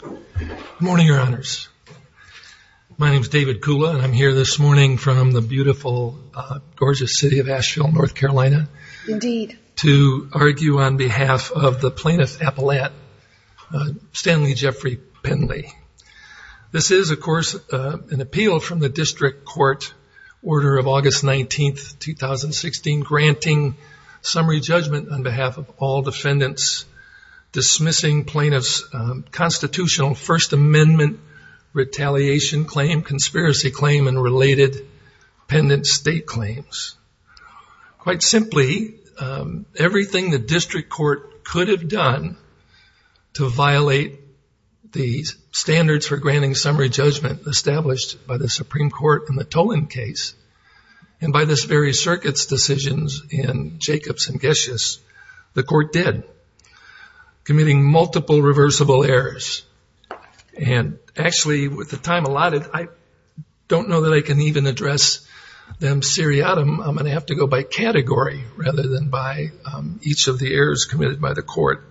Good morning, your honors. My name is David Kula and I'm here this morning from the beautiful, gorgeous city of Asheville, North Carolina to argue on behalf of the plaintiff, Appalachian Stanley Jeffrey Penley. This is, of course, an appeal from the district court order of August 19, 2016, granting summary judgment on behalf of all defendants dismissing plaintiff's constitutional First Amendment retaliation claim, conspiracy claim, and related pendent state claims. Quite simply, everything the district court could have done to violate the standards for granting summary judgment established by the Supreme Court in the Toland case, and by this very circuit's decisions in Jacobs and Geschus, the court did, committing multiple reversible errors. And actually, with the time allotted, I don't know that I can even address them seriatim. I'm going to have to go by category rather than by each of the errors committed by the court.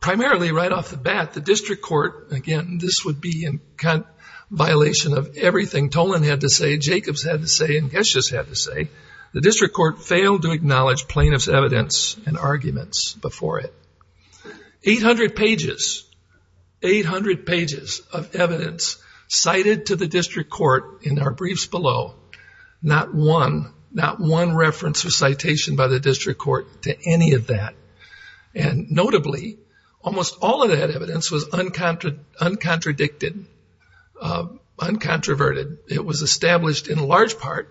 Primarily, right off the bat, the district court, again, this would be in violation of everything Toland had to say, Jacobs had to say, and Geschus had to say, the district court failed to acknowledge plaintiff's evidence and arguments before it. 800 pages, 800 pages of evidence cited to the district court in our briefs below, not one, not one reference or citation by the district court to any of that. And notably, almost all of that evidence was uncontradicted, uncontroverted. It was established in large part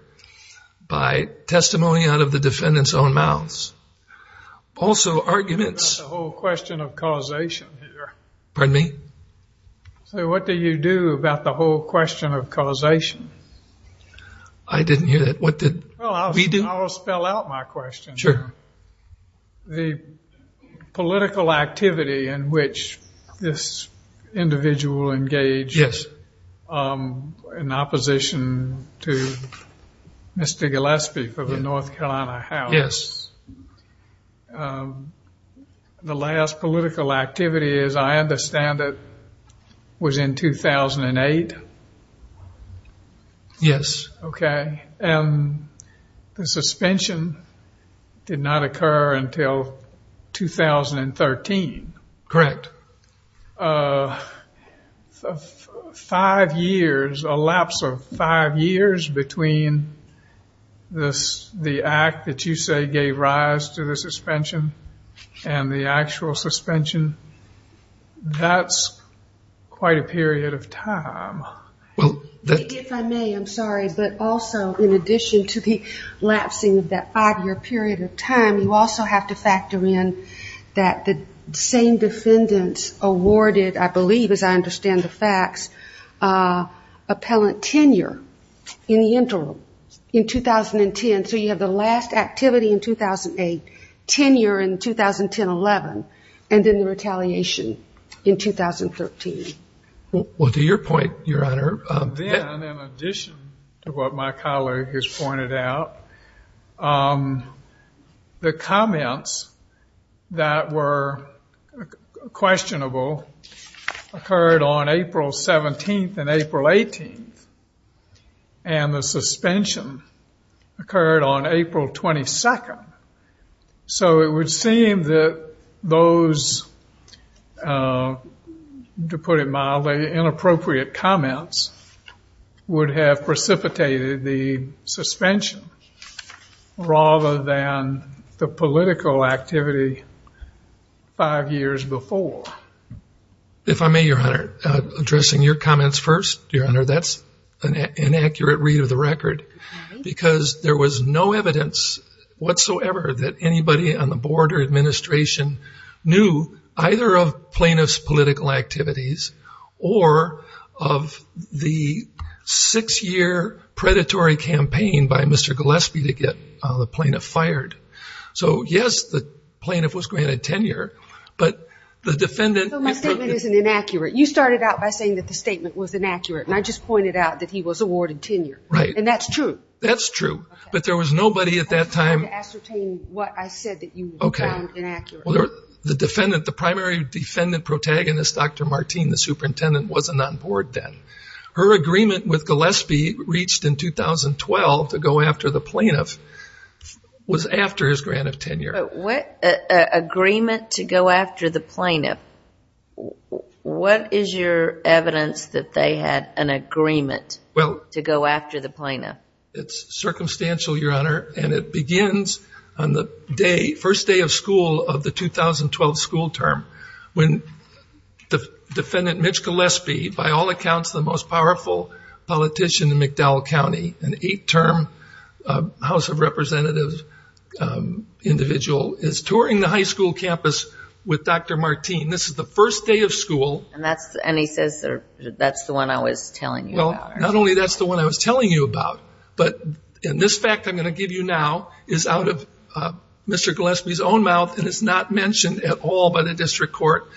by testimony out of the defendant's own mouths. Also, arguments. The whole question of causation here. Pardon me? So what do you do about the whole question of causation? I didn't hear that. What did we do? Well, I'll spell out my question. Sure. The political activity in which this individual engaged in opposition to Mr. Gillespie for the North Carolina House. Yes. The last political activity, as I understand it, was in 2008? Yes. Okay. And the suspension did not occur until 2013. Correct. So five years, a lapse of five years between the act that you say gave rise to the suspension and the actual suspension, that's quite a period of time. If I may, I'm sorry, but also in addition to the lapsing of that five-year period of time, you also have to factor in that the same defendants awarded, I believe as I understand the facts, appellant tenure in the interim in 2010. So you have the last activity in 2008, tenure in 2010-11, and then the retaliation in 2013. Well, to your point, Your Honor. Then, in addition to what my colleague has pointed out, the comments that were questionable occurred on April 17th and April 18th, and the suspension occurred on April 22nd. So it would seem that those, to put it mildly, inappropriate comments would have precipitated the suspension, rather than the political activity five years before. If I may, Your Honor, addressing your comments first, Your Honor, that's an inaccurate read of the record, because there was no evidence whatsoever that anybody on the board or administration knew either of plaintiff's political activities or of the six-year predatory campaign by Mr. Gillespie to get the plaintiff fired. So, yes, the plaintiff was granted tenure, but the defendant... So my statement isn't inaccurate. You started out by saying that the statement was inaccurate, and I just pointed out that he was awarded tenure. Right. And that's true? That's true. But there was nobody at that time... I'm trying to ascertain what I said that you found inaccurate. Okay. The defendant, the primary defendant protagonist, Dr. Martine, the superintendent, wasn't on board then. Her agreement with Gillespie reached in 2012 to go after the plaintiff was after his grant of tenure. But what agreement to go after the plaintiff? What is your evidence that they had an agreement to go after the plaintiff? It's circumstantial, Your Honor, and it begins on the first day of school of the 2012 school term when the defendant, Mitch Gillespie, by all accounts the most powerful politician in McDowell County, an eight-term House of Representatives individual, is touring the high school campus with Dr. Martine. This is the first day of school. And he says that's the one I was telling you about. Well, not only that's the one I was telling you about, but this fact I'm going to give you now is out of Mr. Gillespie's own mouth and is not mentioned at all by the district court.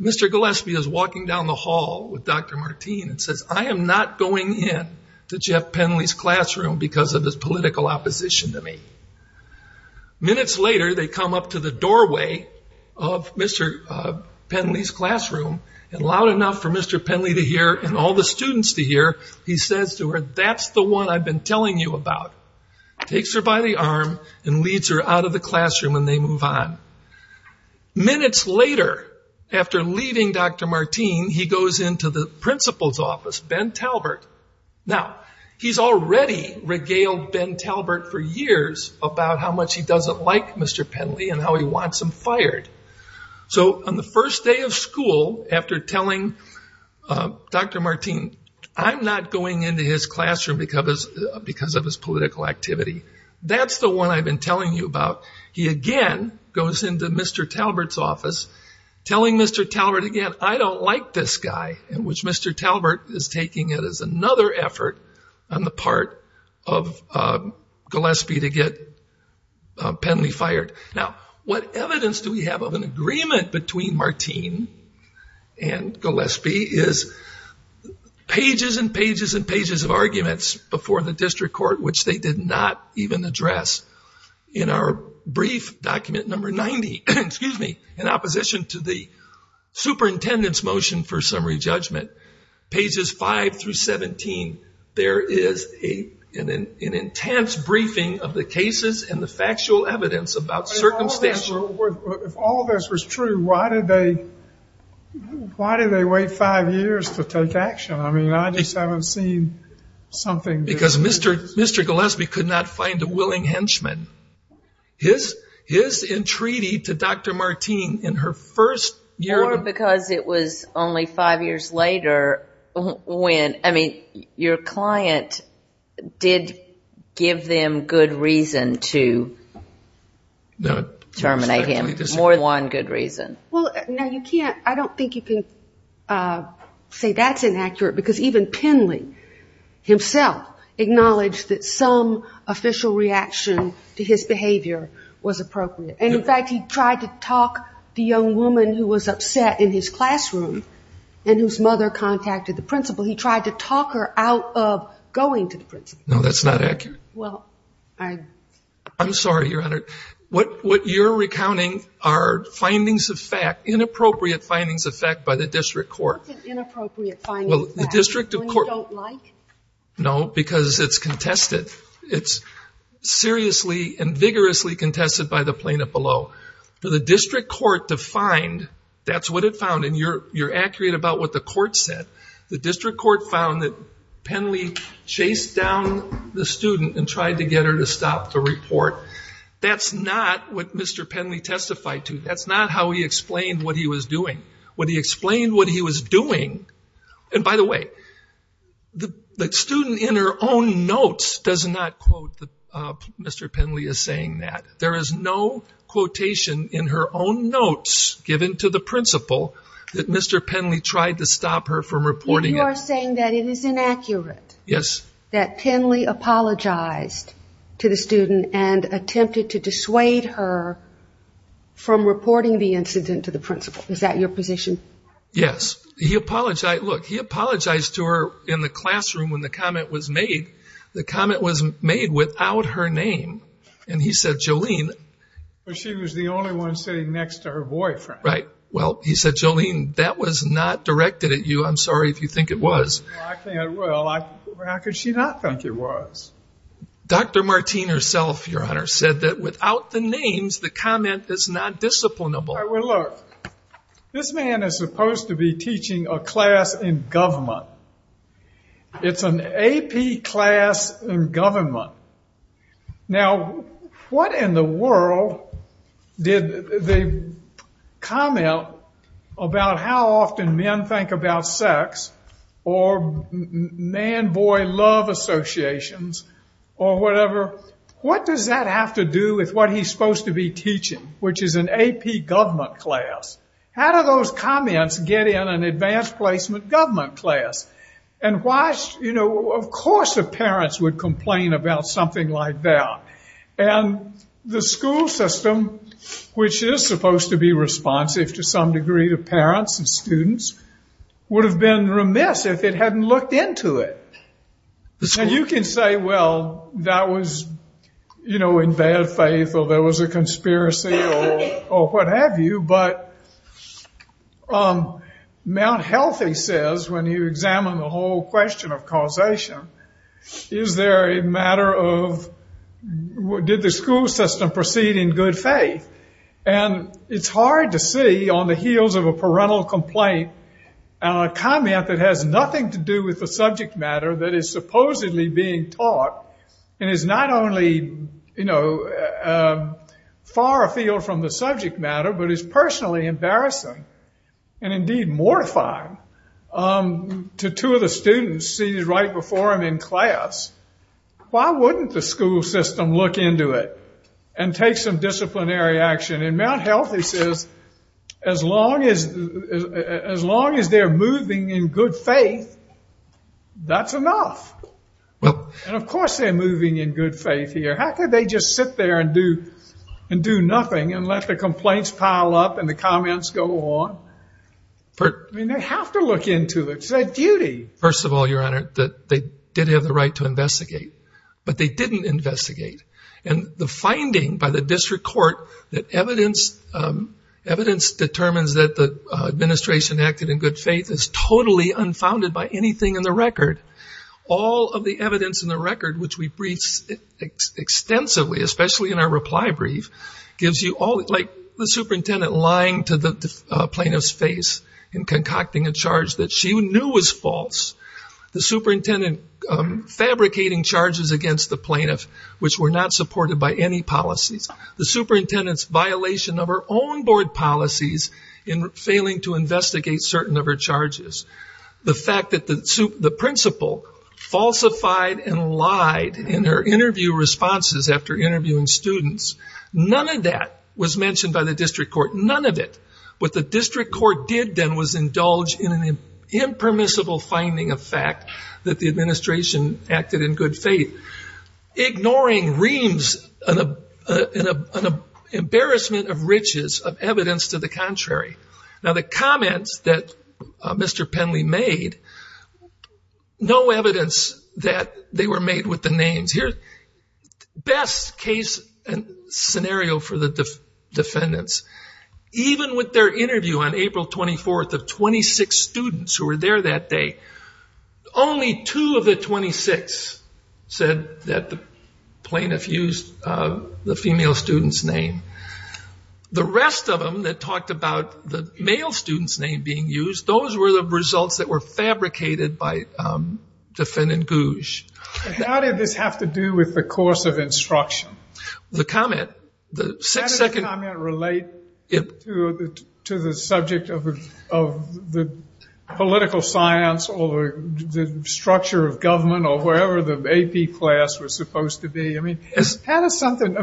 Mr. Gillespie is walking down the hall with Dr. Martine and says, I am not going in to Jeff Penley's classroom because of his political opposition to me. Minutes later, they come up to the doorway of Mr. Penley's classroom, and loud enough for Mr. Penley to hear and all the students to hear, he says to her, that's the one I've been telling you about. Takes her by the arm and leads her out of the classroom and they move on. Minutes later, after leaving Dr. Martine, he goes into the principal's office, Ben Talbert. Now, he's already regaled Ben Talbert for years about how much he doesn't like Mr. Penley and how he wants him fired. So on the first day of school, after telling Dr. Martine, I'm not going into his classroom because of his political activity. That's the one I've been telling you about. He again goes into Mr. Talbert's office, telling Mr. Talbert again, I don't like this guy, in which Mr. Talbert is taking it as another effort on the part of Gillespie to get Penley fired. Now, what evidence do we have of an agreement between Martine and Gillespie is pages and pages and pages of arguments before the district court, which they did not even address in our brief document number 90, in opposition to the superintendent's motion for summary judgment, pages 5 through 17. There is an intense briefing of the cases and the factual evidence about circumstances. If all of this was true, why did they wait five years to take action? I mean, I just haven't seen something. Because Mr. Gillespie could not find a willing henchman. His entreaty to Dr. Martine in her first year of the group. Or because it was only five years later when, I mean, your client did give them good reason to terminate him. More than one good reason. Well, no, you can't. I don't think you can say that's inaccurate, because even Penley himself acknowledged that some official reaction to his behavior was appropriate. And, in fact, he tried to talk the young woman who was upset in his classroom and whose mother contacted the principal. He tried to talk her out of going to the principal. No, that's not accurate. Well, I'm sorry, Your Honor. What you're recounting are findings of fact, inappropriate findings of fact by the district court. What's an inappropriate finding of fact? When you don't like? No, because it's contested. It's seriously and vigorously contested by the plaintiff below. For the district court to find that's what it found, and you're accurate about what the court said. The district court found that Penley chased down the student and tried to get her to stop the report. That's not what Mr. Penley testified to. That's not how he explained what he was doing. When he explained what he was doing, and, by the way, the student in her own notes does not quote Mr. Penley as saying that. There is no quotation in her own notes given to the principal that Mr. Penley tried to stop her from reporting it. You are saying that it is inaccurate that Penley apologized to the student and attempted to dissuade her from reporting the incident to the principal. Is that your position? Yes. He apologized. Look, he apologized to her in the classroom when the comment was made. The comment was made without her name, and he said, Jolene. But she was the only one sitting next to her boyfriend. Right. Well, he said, Jolene, that was not directed at you. I'm sorry if you think it was. Well, I think it was. How could she not think it was? Dr. Martine herself, Your Honor, said that without the names, the comment is not disciplinable. Well, look, this man is supposed to be teaching a class in government. It's an AP class in government. Now, what in the world did the comment about how often men think about sex or man-boy love associations or whatever, what does that have to do with what he's supposed to be teaching, which is an AP government class? How do those comments get in an advanced placement government class? And, you know, of course the parents would complain about something like that. And the school system, which is supposed to be responsive to some degree to parents and students, would have been remiss if it hadn't looked into it. And you can say, well, that was, you know, in bad faith or there was a conspiracy or what have you. But Mount Healthy says, when you examine the whole question of causation, is there a matter of did the school system proceed in good faith? And it's hard to see on the heels of a parental complaint a comment that has nothing to do with the subject matter that is supposedly being taught and is not only, you know, far afield from the subject matter, but is personally embarrassing and indeed mortifying to two of the students seated right before him in class. Why wouldn't the school system look into it and take some disciplinary action? And in Mount Healthy says, as long as they're moving in good faith, that's enough. And of course they're moving in good faith here. How could they just sit there and do nothing and let the complaints pile up and the comments go on? I mean, they have to look into it. It's their duty. First of all, Your Honor, they did have the right to investigate. But they didn't investigate. And the finding by the district court that evidence determines that the administration acted in good faith is totally unfounded by anything in the record. All of the evidence in the record, which we briefed extensively, especially in our reply brief, gives you all like the superintendent lying to the plaintiff's face and concocting a charge that she knew was false. The superintendent fabricating charges against the plaintiff, which were not supported by any policies. The superintendent's violation of her own board policies in failing to investigate certain of her charges. The fact that the principal falsified and lied in her interview responses after interviewing students, none of that was mentioned by the district court, none of it. What the district court did then was indulge in an impermissible finding of fact that the administration acted in good faith, ignoring reams and embarrassment of riches of evidence to the contrary. Now, the comments that Mr. Penley made, no evidence that they were made with the names. Here's the best case scenario for the defendants. Even with their interview on April 24th of 26 students who were there that day, only two of the 26 said that the plaintiff used the female student's name. The rest of them that talked about the male student's name being used, those were the results that were fabricated by Defendant Gouge. But how did this have to do with the course of instruction? The comment, the second- How did the comment relate to the subject of the political science or the structure of government or wherever the AP class was supposed to be? I mean, how does something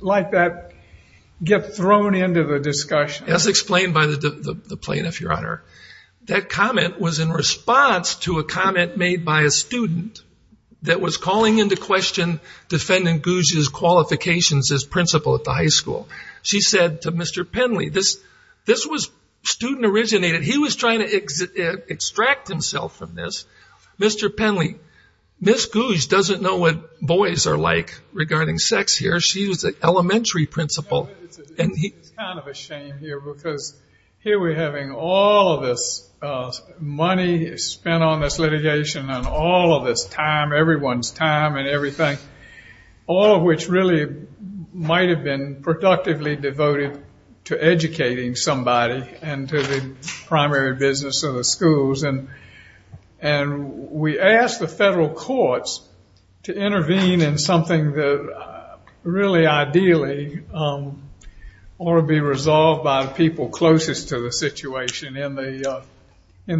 like that get thrown into the discussion? As explained by the plaintiff, Your Honor, that comment was in response to a comment made by a student that was calling into question Defendant Gouge's qualifications as principal at the high school. She said to Mr. Penley, this was student-originated. He was trying to extract himself from this. Mr. Penley, Ms. Gouge doesn't know what boys are like regarding sex here. She was an elementary principal. It's kind of a shame here because here we're having all of this money spent on this litigation and all of this time, everyone's time and everything, all of which really might have been productively devoted to educating somebody and to the primary business of the schools. And we asked the federal courts to intervene in something that really ideally ought to be resolved by the people closest to the situation in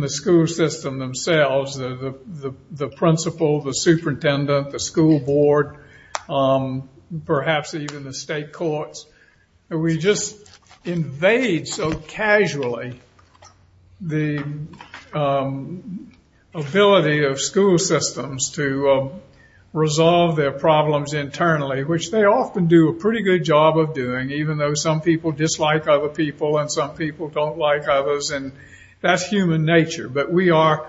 the school system themselves, the principal, the superintendent, the school board, perhaps even the state courts. And we just invade so casually the ability of school systems to resolve their problems internally, which they often do a pretty good job of doing, even though some people dislike other people and some people don't like others, and that's human nature. But we are,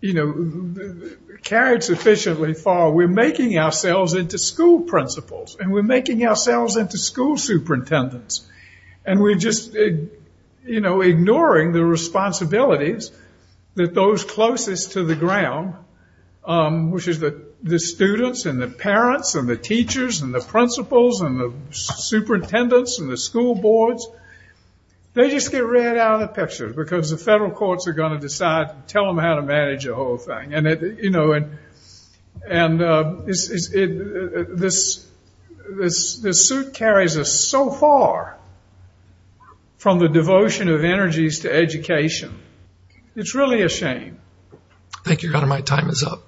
you know, carried sufficiently far. We're making ourselves into school principals and we're making ourselves into school superintendents and we're just, you know, ignoring the responsibilities that those closest to the ground, which is the students and the parents and the teachers and the principals and the superintendents and the school boards, they just get right out of the picture because the federal courts are going to decide to tell them how to manage the whole thing. And, you know, this suit carries us so far from the devotion of energies to education. It's really a shame. Thank you, Your Honor. My time is up.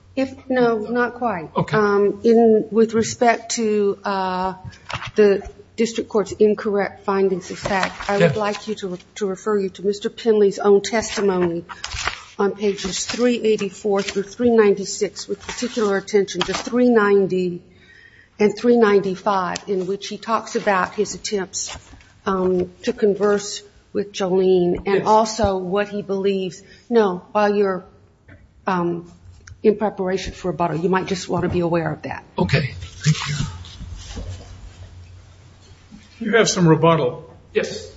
No, not quite. Okay. With respect to the district court's incorrect findings of fact, I would like to refer you to Mr. Pinley's own testimony on pages 384 through 396, with particular attention to 390 and 395, in which he talks about his attempts to converse with Jolene and also what he believes. No, while you're in preparation for rebuttal, you might just want to be aware of that. Okay. Thank you. You have some rebuttal. Yes.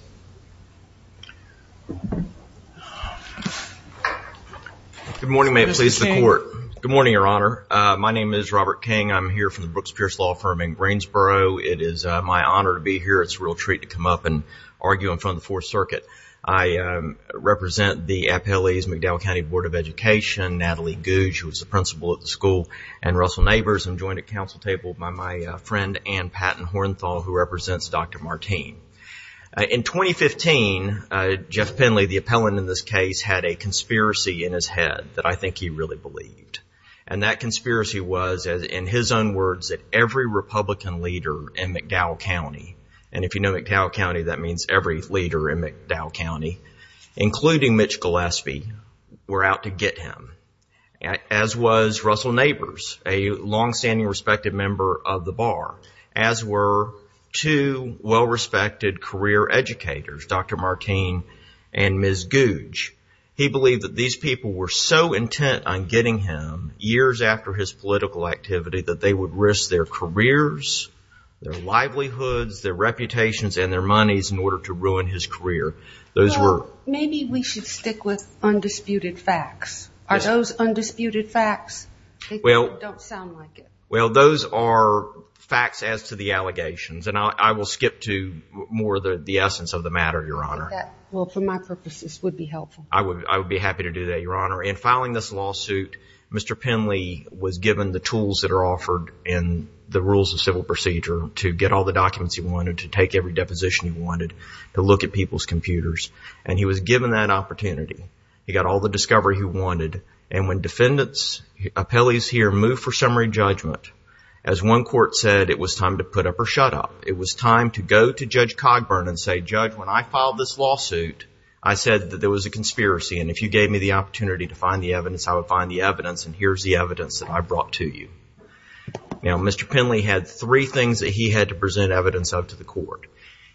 Good morning. May it please the Court. Good morning, Your Honor. My name is Robert King. I'm here from the Brooks Pierce Law Firm in Greensboro. It is my honor to be here. It's a real treat to come up and argue in front of the Fourth Circuit. I represent the Appellee's McDowell County Board of Education, Natalie Gouge, who is the principal at the school, and Russell Neighbors. I'm joined at council table by my friend Ann Patton Hornthal, who represents Dr. Martine. In 2015, Jeff Pinley, the appellant in this case, had a conspiracy in his head that I think he really believed. And that conspiracy was, in his own words, that every Republican leader in McDowell County, and if you know McDowell County, that means every leader in McDowell County, including Mitch Gillespie, were out to get him, as was Russell Neighbors, a longstanding respected member of the bar, as were two well-respected career educators, Dr. Martine and Ms. Gouge. He believed that these people were so intent on getting him, years after his political activity, that they would risk their careers, their livelihoods, their reputations, and their monies in order to ruin his career. Maybe we should stick with undisputed facts. Are those undisputed facts? They don't sound like it. Well, those are facts as to the allegations, and I will skip to more of the essence of the matter, Your Honor. Well, for my purposes, it would be helpful. I would be happy to do that, Your Honor. In filing this lawsuit, Mr. Pinley was given the tools that are offered in the rules of civil procedure to get all the documents he wanted, to take every deposition he wanted, to look at people's computers, and he was given that opportunity. He got all the discovery he wanted, and when defendants, appellees here, move for summary judgment, as one court said, it was time to put up or shut up. It was time to go to Judge Cogburn and say, Judge, when I filed this lawsuit, I said that there was a conspiracy, and if you gave me the opportunity to find the evidence, I would find the evidence, and here's the evidence that I brought to you. Now, Mr. Pinley had three things that he had to present evidence of to the court.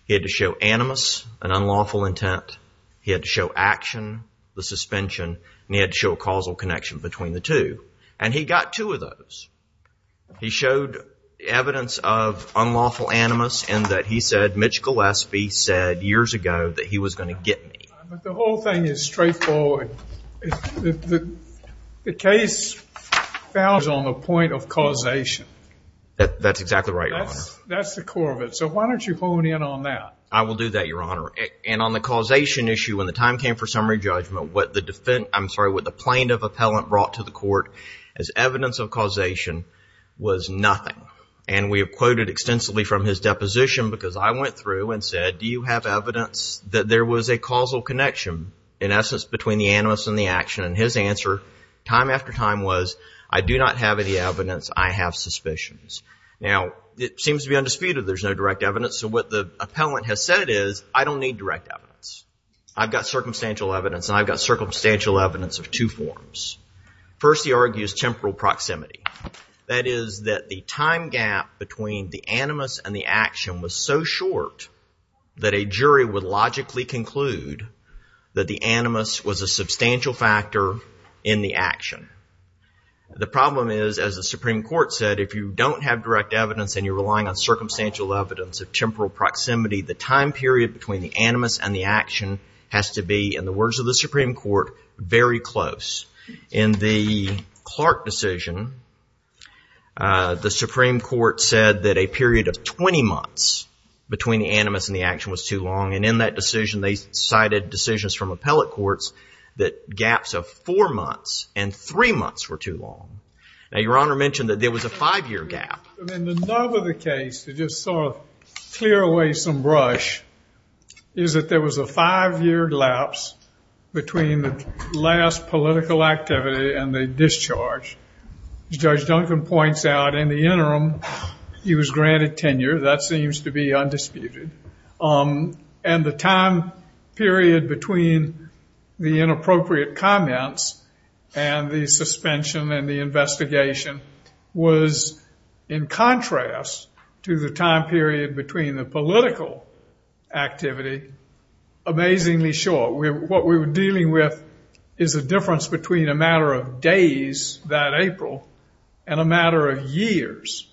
He had to show animus, an unlawful intent. He had to show action, the suspension, and he had to show a causal connection between the two, and he got two of those. He showed evidence of unlawful animus in that he said, Mitch Gillespie said years ago that he was going to get me. The whole thing is straightforward. The case found on the point of causation. That's exactly right, Your Honor. That's the core of it, so why don't you hone in on that? I will do that, Your Honor, and on the causation issue, when the time came for summary judgment, what the plaintiff appellant brought to the court as evidence of causation was nothing, and we have quoted extensively from his deposition because I went through and said, do you have evidence that there was a causal connection, in essence, between the animus and the action, and his answer time after time was, I do not have any evidence. I have suspicions. Now, it seems to be undisputed there's no direct evidence, so what the appellant has said is, I don't need direct evidence. I've got circumstantial evidence, and I've got circumstantial evidence of two forms. First, he argues temporal proximity. That is that the time gap between the animus and the action was so short that a jury would logically conclude that the animus was a substantial factor in the action. The problem is, as the Supreme Court said, if you don't have direct evidence and you're relying on circumstantial evidence of temporal proximity, the time period between the animus and the action has to be, in the words of the Supreme Court, very close. In the Clark decision, the Supreme Court said that a period of 20 months between the animus and the action was too long, and in that decision they cited decisions from appellate courts that gaps of four months and three months were too long. Now, Your Honor mentioned that there was a five-year gap. In the nub of the case, to just sort of clear away some brush, is that there was a five-year lapse between the last political activity and the discharge. As Judge Duncan points out, in the interim he was granted tenure. That seems to be undisputed. And the time period between the inappropriate comments and the suspension and the investigation was, in contrast to the time period between the political activity, amazingly short. What we were dealing with is the difference between a matter of days that April and a matter of years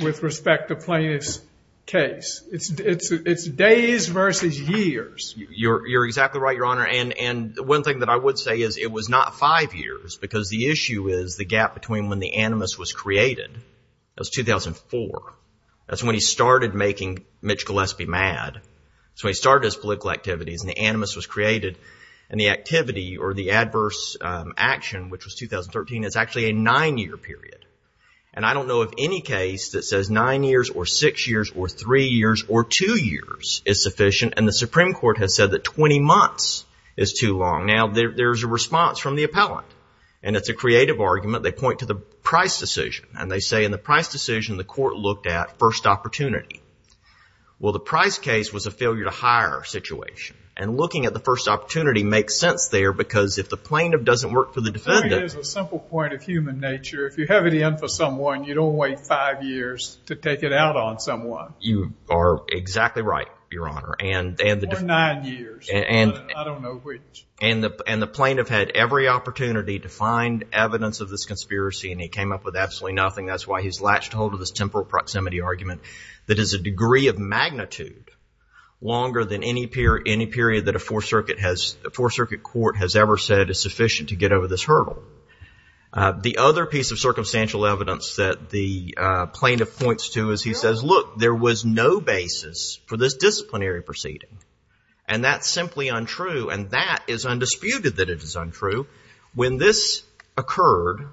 with respect to Plaintiff's case. It's days versus years. You're exactly right, Your Honor, and one thing that I would say is it was not five years, because the issue is the gap between when the animus was created. That was 2004. That's when he started making Mitch Gillespie mad. That's when he started his political activities, and the animus was created, and the activity or the adverse action, which was 2013, is actually a nine-year period. And I don't know of any case that says nine years or six years or three years or two years is sufficient, and the Supreme Court has said that 20 months is too long. Now, there's a response from the appellant, and it's a creative argument. They point to the price decision, and they say in the price decision, the court looked at first opportunity. Well, the price case was a failure to hire situation, and looking at the first opportunity makes sense there, because if the plaintiff doesn't work for the defendant. It is a simple point of human nature. If you have it in for someone, you don't wait five years to take it out on someone. You are exactly right, Your Honor. Or nine years. I don't know which. And the plaintiff had every opportunity to find evidence of this conspiracy, and he came up with absolutely nothing. That's why he's latched on to this temporal proximity argument that is a degree of magnitude longer than any period that a Fourth Circuit court has ever said is sufficient to get over this hurdle. The other piece of circumstantial evidence that the plaintiff points to is he says, look, there was no basis for this disciplinary proceeding, and that's simply untrue, and that is undisputed that it is untrue. When this occurred,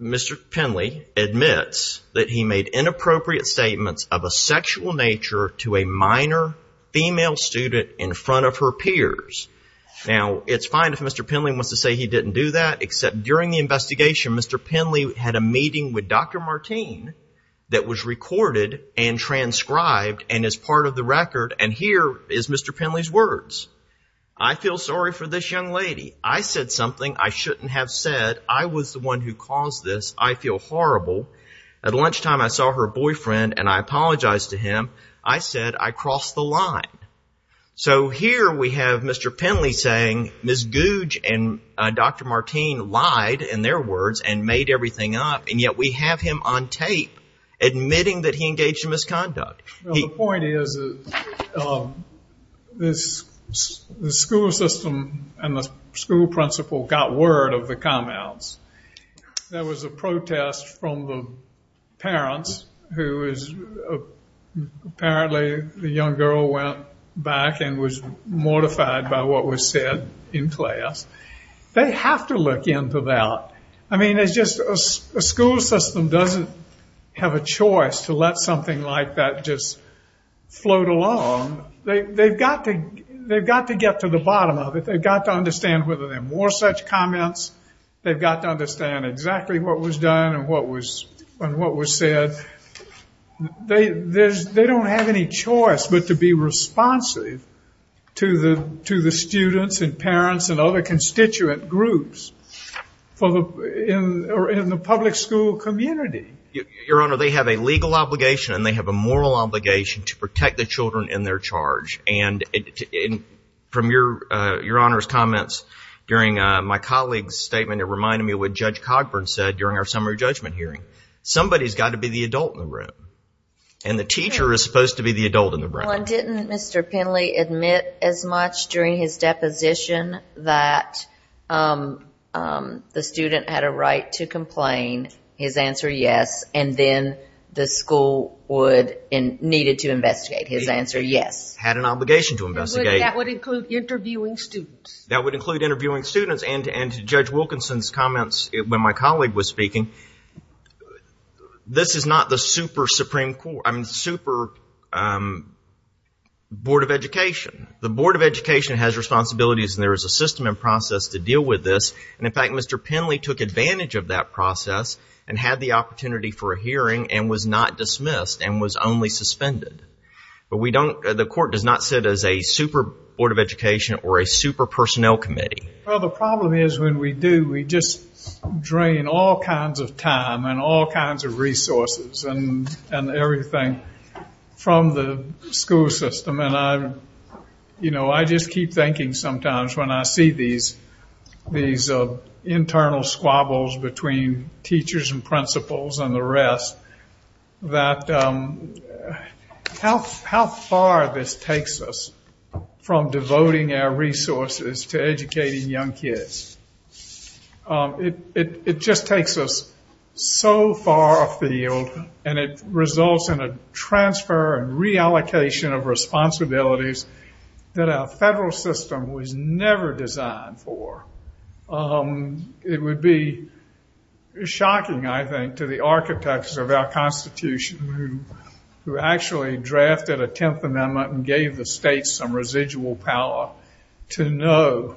Mr. Penley admits that he made inappropriate statements of a sexual nature to a minor female student in front of her peers. Now, it's fine if Mr. Penley wants to say he didn't do that, except during the investigation, Mr. Penley had a meeting with Dr. Martine that was recorded and transcribed and is part of the record, and here is Mr. Penley's words. I feel sorry for this young lady. I said something I shouldn't have said. I was the one who caused this. I feel horrible. At lunchtime, I saw her boyfriend, and I apologized to him. I said I crossed the line. So here we have Mr. Penley saying Ms. Gouge and Dr. Martine lied, in their words, and made everything up, and yet we have him on tape admitting that he engaged in misconduct. The point is the school system and the school principal got word of the comments. There was a protest from the parents who apparently the young girl went back and was mortified by what was said in class. They have to look into that. I mean, it's just a school system doesn't have a choice to let something like that just float along. They've got to get to the bottom of it. They've got to understand whether there are more such comments. They've got to understand exactly what was done and what was said. They don't have any choice but to be responsive to the students and parents and other constituent groups in the public school community. Your Honor, they have a legal obligation and they have a moral obligation to protect the children in their charge. From Your Honor's comments during my colleague's statement, it reminded me of what Judge Cogburn said during our summary judgment hearing. Somebody has got to be the adult in the room, and the teacher is supposed to be the adult in the room. Well, and didn't Mr. Penley admit as much during his deposition that the student had a right to complain? His answer, yes. And then the school needed to investigate. His answer, yes. Had an obligation to investigate. That would include interviewing students. That would include interviewing students. And to Judge Wilkinson's comments when my colleague was speaking, this is not the super Supreme Court, I mean super Board of Education. The Board of Education has responsibilities and there is a system and process to deal with this. And, in fact, Mr. Penley took advantage of that process and had the opportunity for a hearing and was not dismissed and was only suspended. But the court does not sit as a super Board of Education or a super personnel committee. Well, the problem is when we do, we just drain all kinds of time and all kinds of resources and everything from the school system. And I just keep thinking sometimes when I see these internal squabbles between teachers and principals and the rest, that how far this takes us from devoting our resources to educating young kids. It just takes us so far off the field and it results in a transfer and reallocation of responsibilities that our federal system was never designed for. It would be shocking, I think, to the architects of our Constitution who actually drafted a Tenth Amendment and gave the state some residual power to know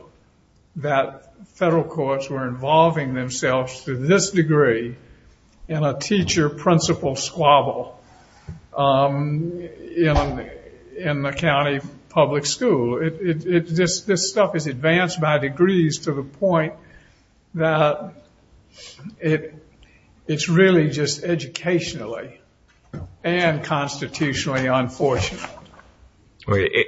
that federal courts were involving themselves to this degree in a teacher-principal squabble in the county public school. This stuff is advanced by degrees to the point that it's really just educationally and constitutionally unfortunate.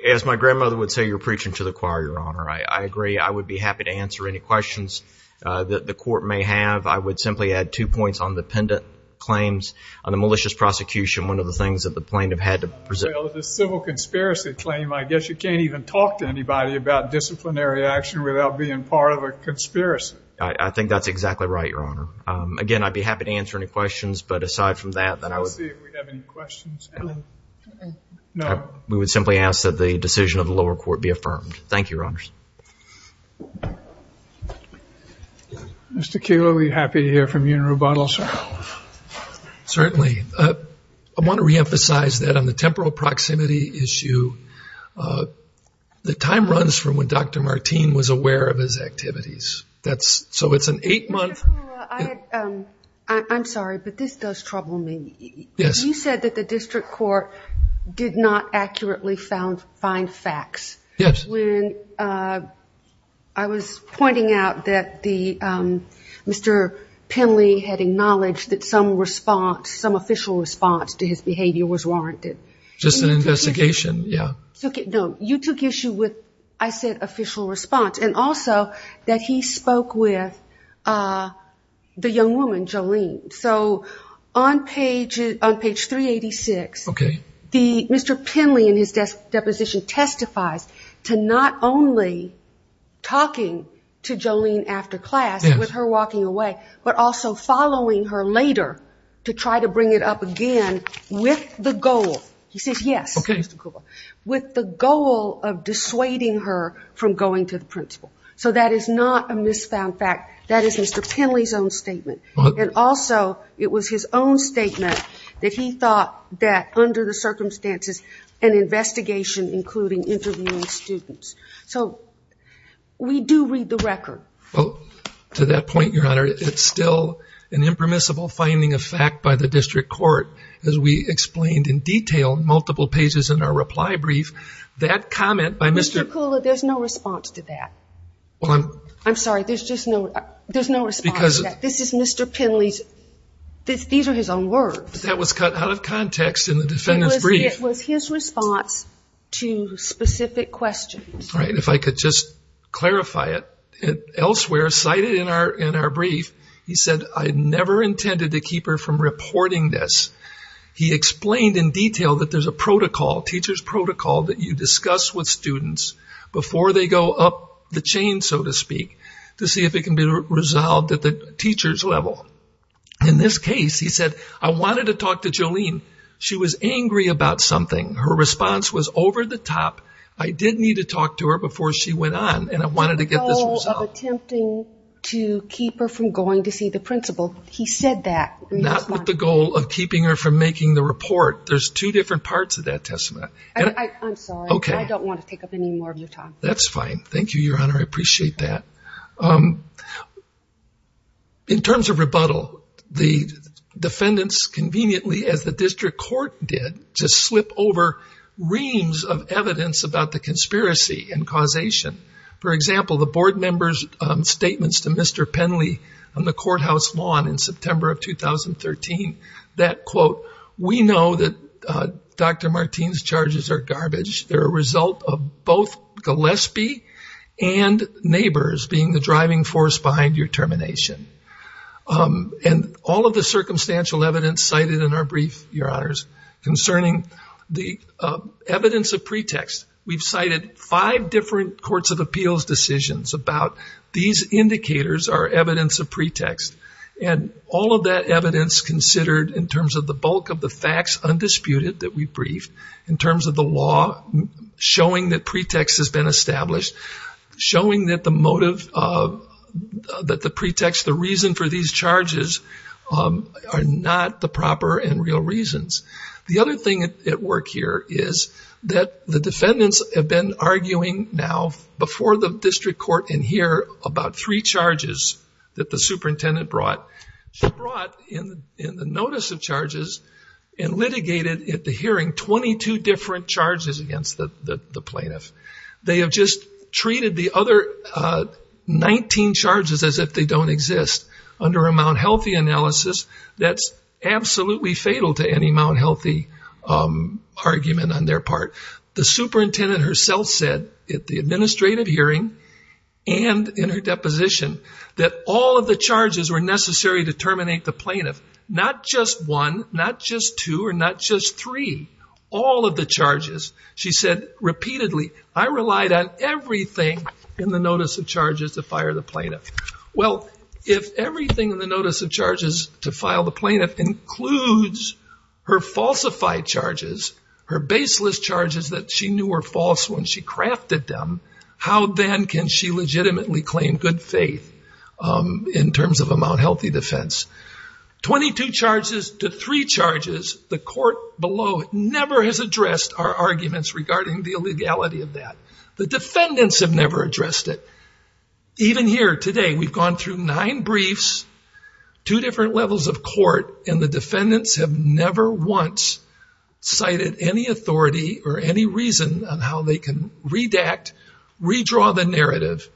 As my grandmother would say, you're preaching to the choir, Your Honor. I agree. I would be happy to answer any questions that the court may have. I would simply add two points on the pendant claims, on the malicious prosecution, one of the things that the plaintiff had to present. Well, the civil conspiracy claim. I guess you can't even talk to anybody about disciplinary action without being part of a conspiracy. I think that's exactly right, Your Honor. Again, I'd be happy to answer any questions, but aside from that, then I would— Let's see if we have any questions. No. We would simply ask that the decision of the lower court be affirmed. Thank you, Your Honors. Certainly. I want to reemphasize that on the temporal proximity issue, the time runs from when Dr. Martin was aware of his activities. So it's an eight-month— Mr. Carrillo, I'm sorry, but this does trouble me. Yes. You said that the district court did not accurately find facts. Yes. I was pointing out that Mr. Penley had acknowledged that some response, some official response to his behavior was warranted. Just an investigation, yes. No. You took issue with, I said, official response, and also that he spoke with the young woman, Jolene. So on page 386, Mr. Penley, in his deposition, testifies to not only talking to Jolene after class with her walking away, but also following her later to try to bring it up again with the goal. He says yes. Okay. With the goal of dissuading her from going to the principal. So that is not a misfound fact. That is Mr. Penley's own statement. And also, it was his own statement that he thought that under the circumstances, an investigation including interviewing students. So we do read the record. Well, to that point, Your Honor, it's still an impermissible finding of fact by the district court, as we explained in detail in multiple pages in our reply brief. That comment by Mr.— Mr. Kula, there's no response to that. Well, I'm— I'm sorry, there's just no response to that. This is Mr. Penley's—these are his own words. That was cut out of context in the defendant's brief. It was his response to specific questions. All right. If I could just clarify it. Elsewhere, cited in our brief, he said, I never intended to keep her from reporting this. He explained in detail that there's a protocol, teacher's protocol, that you discuss with students before they go up the chain, so to speak, to see if it can be resolved at the teacher's level. In this case, he said, I wanted to talk to Jolene. She was angry about something. Her response was over the top. I did need to talk to her before she went on, and I wanted to get this resolved. Not with the goal of attempting to keep her from going to see the principal. He said that. Not with the goal of keeping her from making the report. There's two different parts of that testament. I'm sorry. Okay. I don't want to take up any more of your time. That's fine. Thank you, Your Honor. I appreciate that. In terms of rebuttal, the defendants conveniently, as the district court did, just slip over reams of evidence about the conspiracy and causation. For example, the board member's statements to Mr. Penley on the courthouse lawn in September of 2013, that, quote, we know that Dr. Martin's charges are garbage. They're a result of both Gillespie and neighbors being the driving force behind your termination. And all of the circumstantial evidence cited in our brief, Your Honors, concerning the evidence of pretext. We've cited five different courts of appeals decisions about these indicators are evidence of pretext. And all of that evidence considered in terms of the bulk of the facts undisputed that we've briefed, in terms of the law, showing that pretext has been established, showing that the motive of the pretext, the reason for these charges, are not the proper and real reasons. The other thing at work here is that the defendants have been arguing now, before the district court in here, about three charges that the superintendent brought. She brought in the notice of charges and litigated at the hearing 22 different charges against the plaintiff. They have just treated the other 19 charges as if they don't exist. Under a Mount Healthy analysis, that's absolutely fatal to any Mount Healthy argument on their part. The superintendent herself said at the administrative hearing and in her deposition, that all of the charges were necessary to terminate the plaintiff. Not just one, not just two, or not just three. All of the charges. She said repeatedly, I relied on everything in the notice of charges to fire the plaintiff. Well, if everything in the notice of charges to file the plaintiff includes her falsified charges, her baseless charges that she knew were false when she crafted them, how then can she legitimately claim good faith in terms of a Mount Healthy defense? 22 charges to three charges, the court below it never has addressed our arguments regarding the illegality of that. The defendants have never addressed it. Even here today, we've gone through nine briefs, two different levels of court, and the defendants have never once cited any authority or any reason on how they can redact, redraw the narrative,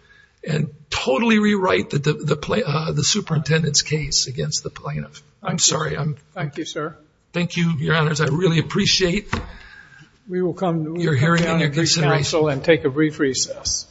and totally rewrite the superintendent's case against the plaintiff. I'm sorry. Thank you, sir. Thank you, your honors. I really appreciate your hearing and your consideration. We will come down to the council and take a brief recess.